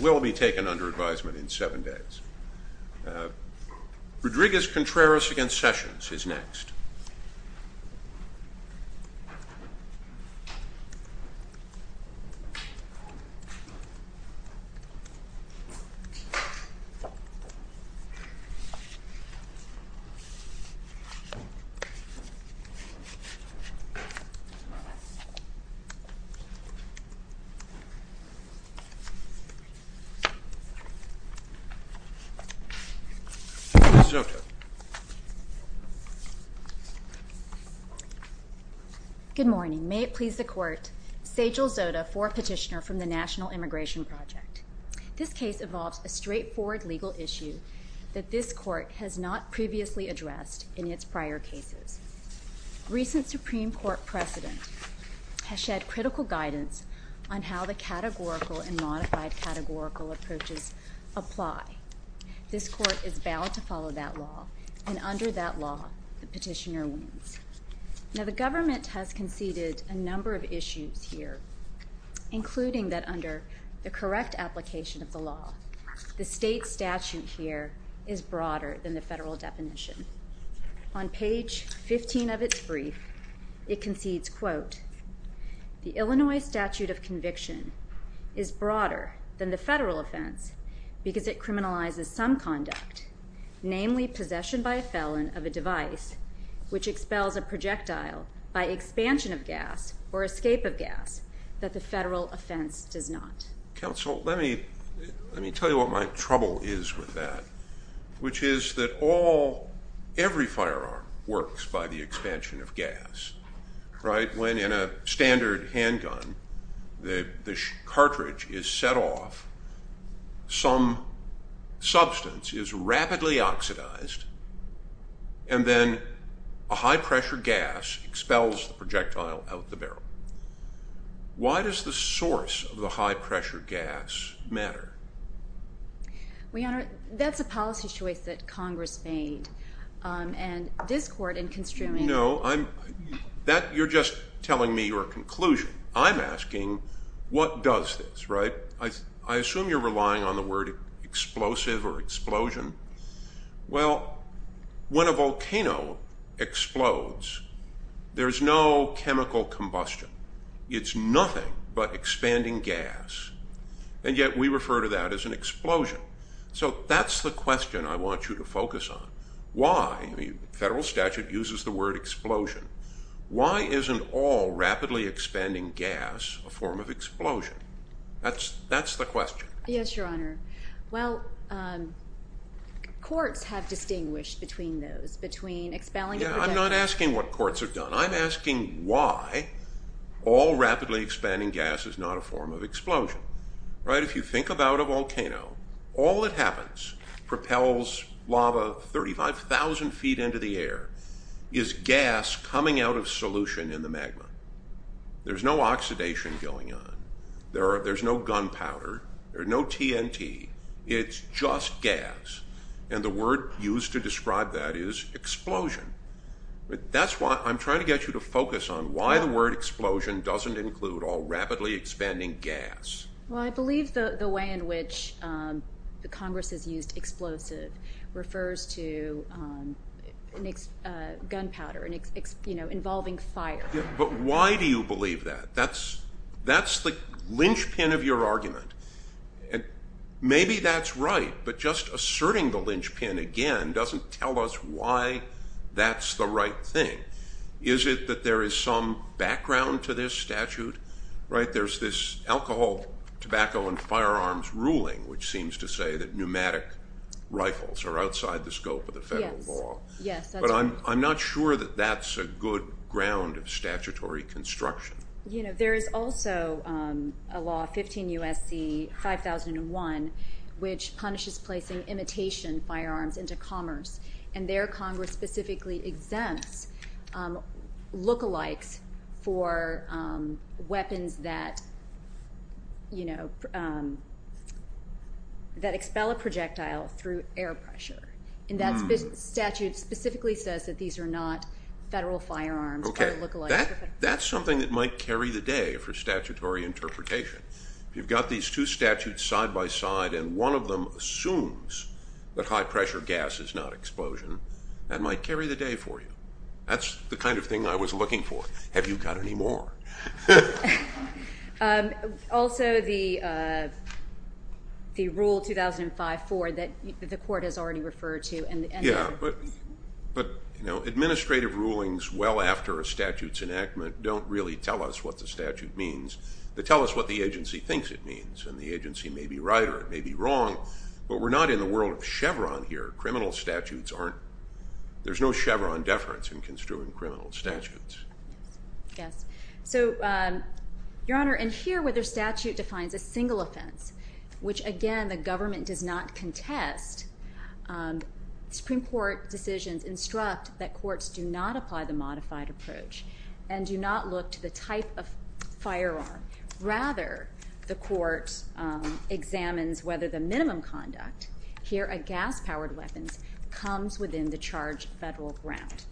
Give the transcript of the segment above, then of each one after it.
will be taken under advisement in seven days. Rodriguez-Contreras v. Sessions is next. Good morning. May it please the Court, Sajel Zota, fourth petitioner from the National Immigration Project. This case involves a straightforward legal issue that this Court has not previously addressed in its prior cases. Recent Supreme Court precedent has provided critical guidance on how the categorical and modified categorical approaches apply. This Court is bound to follow that law, and under that law, the petitioner wins. Now the government has conceded a number of issues here, including that under the correct application of the law, the state statute here is broader than the federal definition. On page 15 of this brief, it concedes, quote, the Illinois statute of conviction is broader than the federal offense because it criminalizes some conduct, namely possession by a felon of a device which expels a projectile by expansion of gas or escape of gas that the federal offense does not. Counsel, let me tell you what my trouble is with that, which is that all, every firearm works by the expansion of gas, right? When in a standard handgun, the cartridge is set off, some substance is rapidly oxidized, and then a high-pressure gas expels the projectile out of the barrel. Why does the source of the high-pressure gas matter? Well, Your Honor, that's a policy choice that Congress made, and this Court in construing... No, you're just telling me your conclusion. I'm asking what does this, right? I assume you're relying on the word explosive or explosion. Well, when a volcano explodes, there's no way to describe that as an explosion. So that's the question I want you to focus on. Why? The federal statute uses the word explosion. Why isn't all rapidly expanding gas a form of explosion? That's the question. Yes, Your Honor. Well, courts have distinguished between those, between expelling a projectile... I'm not asking what courts have done. I'm asking, if you think about a volcano, all that happens, propels lava 35,000 feet into the air, is gas coming out of solution in the magma. There's no oxidation going on. There's no gunpowder. There's no TNT. It's just gas, and the word used to describe that is explosion. That's why I'm trying to get you to focus on why the word explosion doesn't include all rapidly expanding gas. Well, I believe the way in which Congress has used explosive refers to gunpowder involving fire. But why do you believe that? That's the linchpin of your argument. Maybe that's right, but just asserting the linchpin again doesn't tell us why that's the right thing. Is it that there is some background to this statute? There's this alcohol, tobacco, and firearms ruling which seems to say that pneumatic rifles are outside the scope of the federal law. Yes, that's right. But I'm not sure that that's a good ground of statutory construction. There is also a law, 15 U.S.C. 5001, which specifically exempts look-alikes for weapons that expel a projectile through air pressure. That statute specifically says that these are not federal firearms or look-alikes. That's something that might carry the day for statutory interpretation. You've got these two statutes side-by-side, and one of them assumes that high-pressure gas is not explosion. That might carry the day for you. That's the kind of thing I was looking for. Have you got any more? Also, the Rule 2005-4 that the Court has already referred to. Administrative rulings well after a statute's enactment don't really tell us what the statute thinks it means, and the agency may be right or it may be wrong, but we're not in the world of Chevron here. Criminal statutes aren't—there's no Chevron deference in construing criminal statutes. Yes. So, Your Honor, in here where the statute defines a single offense, which again the government does not contest, Supreme Court decisions instruct that courts do not apply the modified approach and do not look to the type of firearm. Rather, the court examines whether the minimum conduct here at gas-powered weapons comes within the charged federal ground.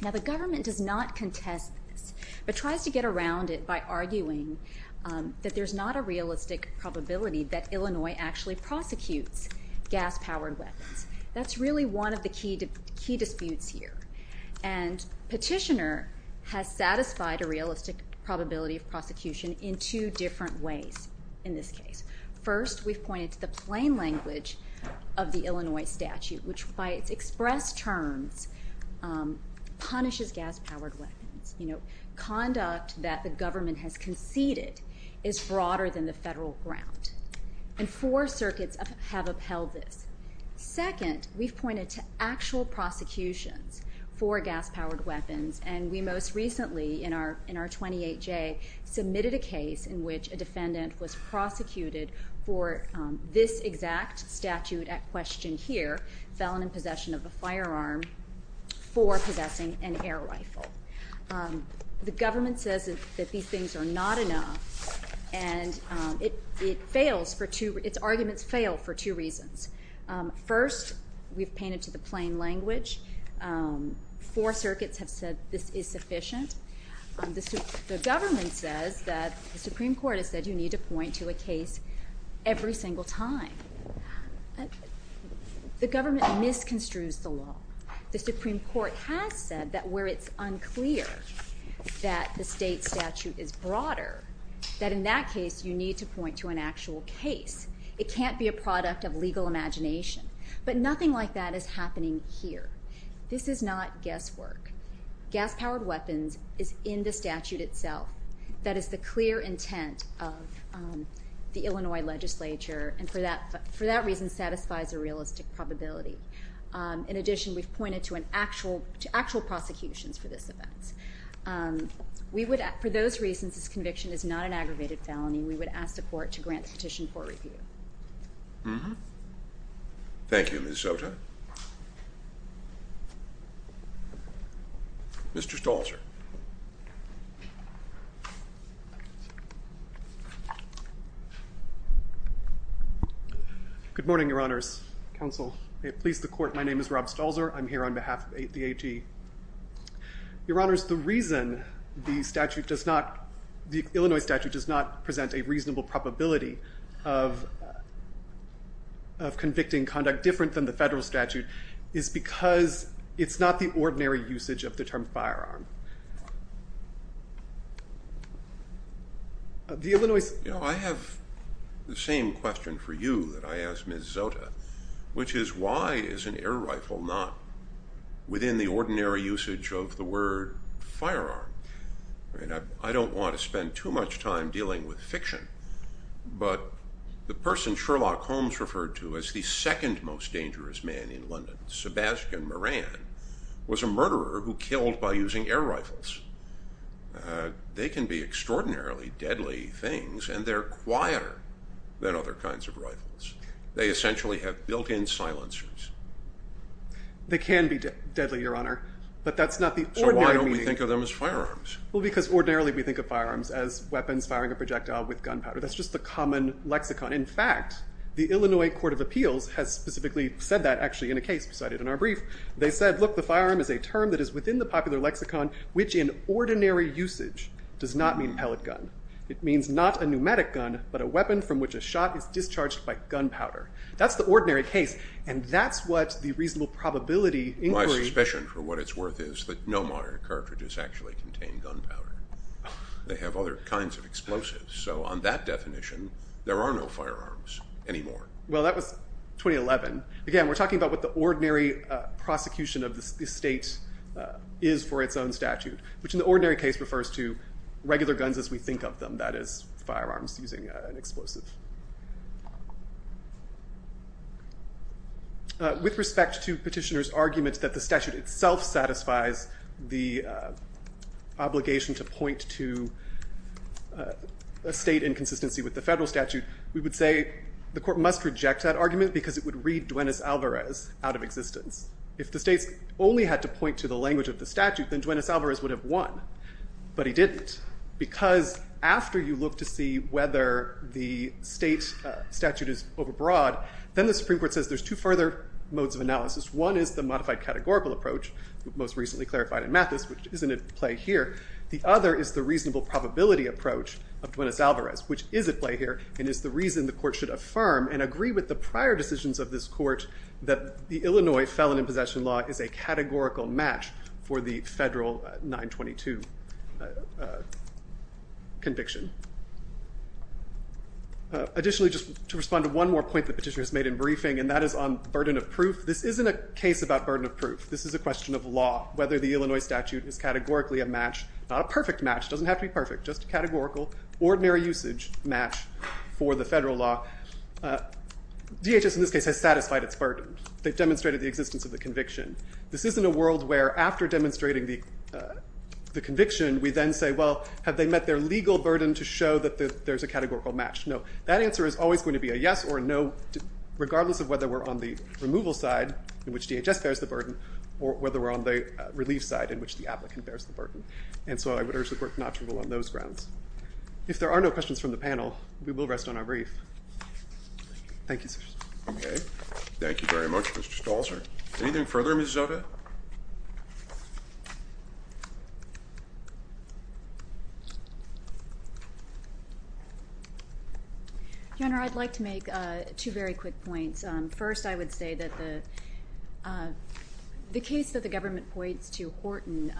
Now, the government does not contest this, but tries to get around it by arguing that there's not a realistic probability that Illinois actually prosecutes gas-powered weapons. That's really one of the key disputes here, and Petitioner has satisfied a realistic probability of prosecution in two different ways in this case. First, we've pointed to the plain language of the Illinois statute, which by its express terms punishes gas-powered weapons. Conduct that the government has conceded is broader than the federal ground, and four circuits have upheld this. Second, we've pointed to actual prosecutions for gas-powered weapons, and we most recently in our 28J submitted a case in which a defendant was prosecuted for this exact statute at question here—felon in possession of a firearm for possessing an air rifle. The government says that these things are not enough, and its arguments fail for two reasons. First, we've pointed to the plain language. Four circuits have said this is sufficient. The government says that the Supreme Court has said you need to point to a case every single time. The government misconstrues the law. The Supreme Court has said that where it's unclear that the state statute is broader, that in that case you need to point to an actual case. It can't be a product of legal imagination, but nothing like that is happening here. This is not guesswork. Gas-powered weapons is in the statute itself. That is the clear intent of the Illinois legislature, and for that reason satisfies a realistic probability. In addition, we've pointed to actual prosecutions for this event. For those reasons, this conviction is not an aggravated felony. We would ask the court to grant petition for review. Thank you, Ms. Sota. Mr. Stalzer. Good morning, Your Honors. Counsel, may it please the Court, my name is Rob Stalzer. I'm here on behalf of the AG. Your Honors, the reason the Illinois statute does not present a reasonable probability of convicting conduct different than the federal statute is because it's not the ordinary usage of the term firearm. You know, I have the same question for you that I asked Ms. Sota, which is why is an air rifle not within the ordinary usage of the word firearm? I don't want to spend too much time dealing with fiction, but the person Sherlock Holmes referred to as the second most dangerous man in London, Sebastian Moran, was a murderer who killed by using air rifles. They can be extraordinarily deadly things, and they're quieter than other kinds of rifles. They essentially have built-in silencers. They can be deadly, Your Honor, but that's not the ordinary meaning. So why don't we think of them as firearms? Well, because ordinarily we think of firearms as weapons firing a projectile with gunpowder. That's just the common lexicon. In fact, the Illinois Court of Appeals has specifically said that actually in a case cited in our brief. They said, look, the firearm is a term that is within the popular lexicon, which in ordinary usage does not mean pellet gun. It means not a pneumatic gun, but a weapon from which a shot is discharged by gunpowder. That's the ordinary case, and that's what the reasonable probability inquiry. My suspicion for what it's worth is that no modern cartridges actually contain gunpowder. They have other kinds of explosives. So on that definition, there are no firearms anymore. Well, that was 2011. Again, we're talking about what the ordinary prosecution of the state is for its own statute, which in the ordinary case refers to regular guns as we think of them. That is, firearms using an explosive. With respect to petitioner's argument that the statute itself satisfies the obligation to point to a state inconsistency with the federal statute, we would say the court must reject that argument because it would read Duenas-Alvarez out of existence. If the states only had to point to the language of the statute, then Duenas-Alvarez would have won. But he didn't, because after you look to see whether the state statute is overbroad, then the Supreme Court says there's two further modes of analysis. One is the modified categorical approach, most recently clarified in Mathis, which isn't at play here. The other is the reasonable probability approach of Duenas-Alvarez, which is at play here and is the reason the court should affirm and agree with the prior decisions of this court that the Illinois felon in possession law is a categorical match for the federal 922 conviction. Additionally, just to respond to one more point the petitioner has made in briefing, and that is on burden of proof. This isn't a case about burden of proof. This is a question of law, whether the Illinois statute is categorically a match. Not a perfect match. It doesn't have to be perfect. Just a categorical, ordinary usage match for the federal law. DHS, in this case, has satisfied its burden. They've demonstrated the existence of the conviction. This isn't a world where, after demonstrating the conviction, we then say, well, have they met their legal burden to show that there's a categorical match? No. That answer is always going to be a yes or a no, regardless of whether we're on the removal side, in which DHS bears the burden, or whether we're on the relief side, in which the applicant bears the burden. And so I would urge the court not to rule on those grounds. If there are no questions from the panel, we will rest on our brief. Thank you, sirs. Okay. Thank you very much, Mr. Stolzer. Anything further, Ms. Zoda? Your Honor, I'd like to make two very quick points. First, I would say that the case that the government points to, Horton,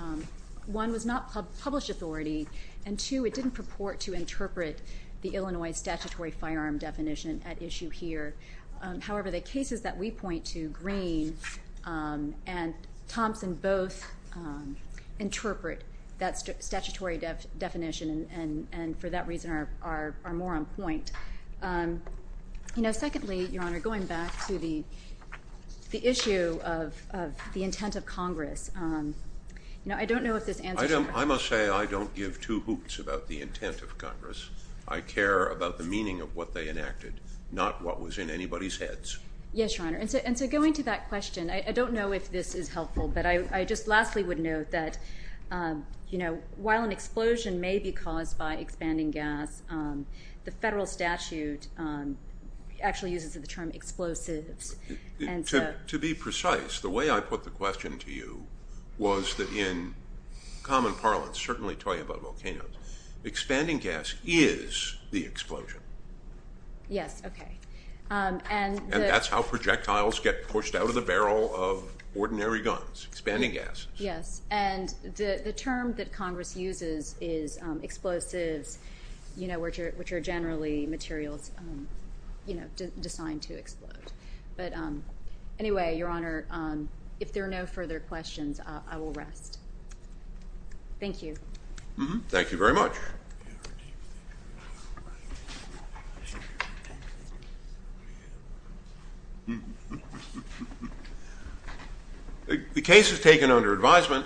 one, was not published authority, and two, it didn't purport to interpret the Illinois statutory firearm definition at issue here. However, the cases that we point to, Green and Thompson, both interpret that statutory definition and, for that reason, are more on point. Secondly, Your Honor, going back to the issue of the intent of Congress, I don't know if this answers your question. I must say I don't give two hoots about the intent of Congress. I care about the meaning of what they enacted, not what was in anybody's heads. Yes, Your Honor. And so going to that question, I don't know if this is helpful, but I just lastly would note that while an explosion may be caused by expanding gas, the federal statute actually uses the term explosives. To be precise, the way I put the question to you was that in common parlance, certainly talking about volcanoes, expanding gas is the explosion. Yes, okay. And that's how projectiles get pushed out of the barrel of ordinary guns, expanding gases. Yes, and the term that Congress uses is explosives. You know, which are generally materials designed to explode. But anyway, Your Honor, if there are no further questions, I will rest. Thank you. Thank you very much. The case is taken under advisement.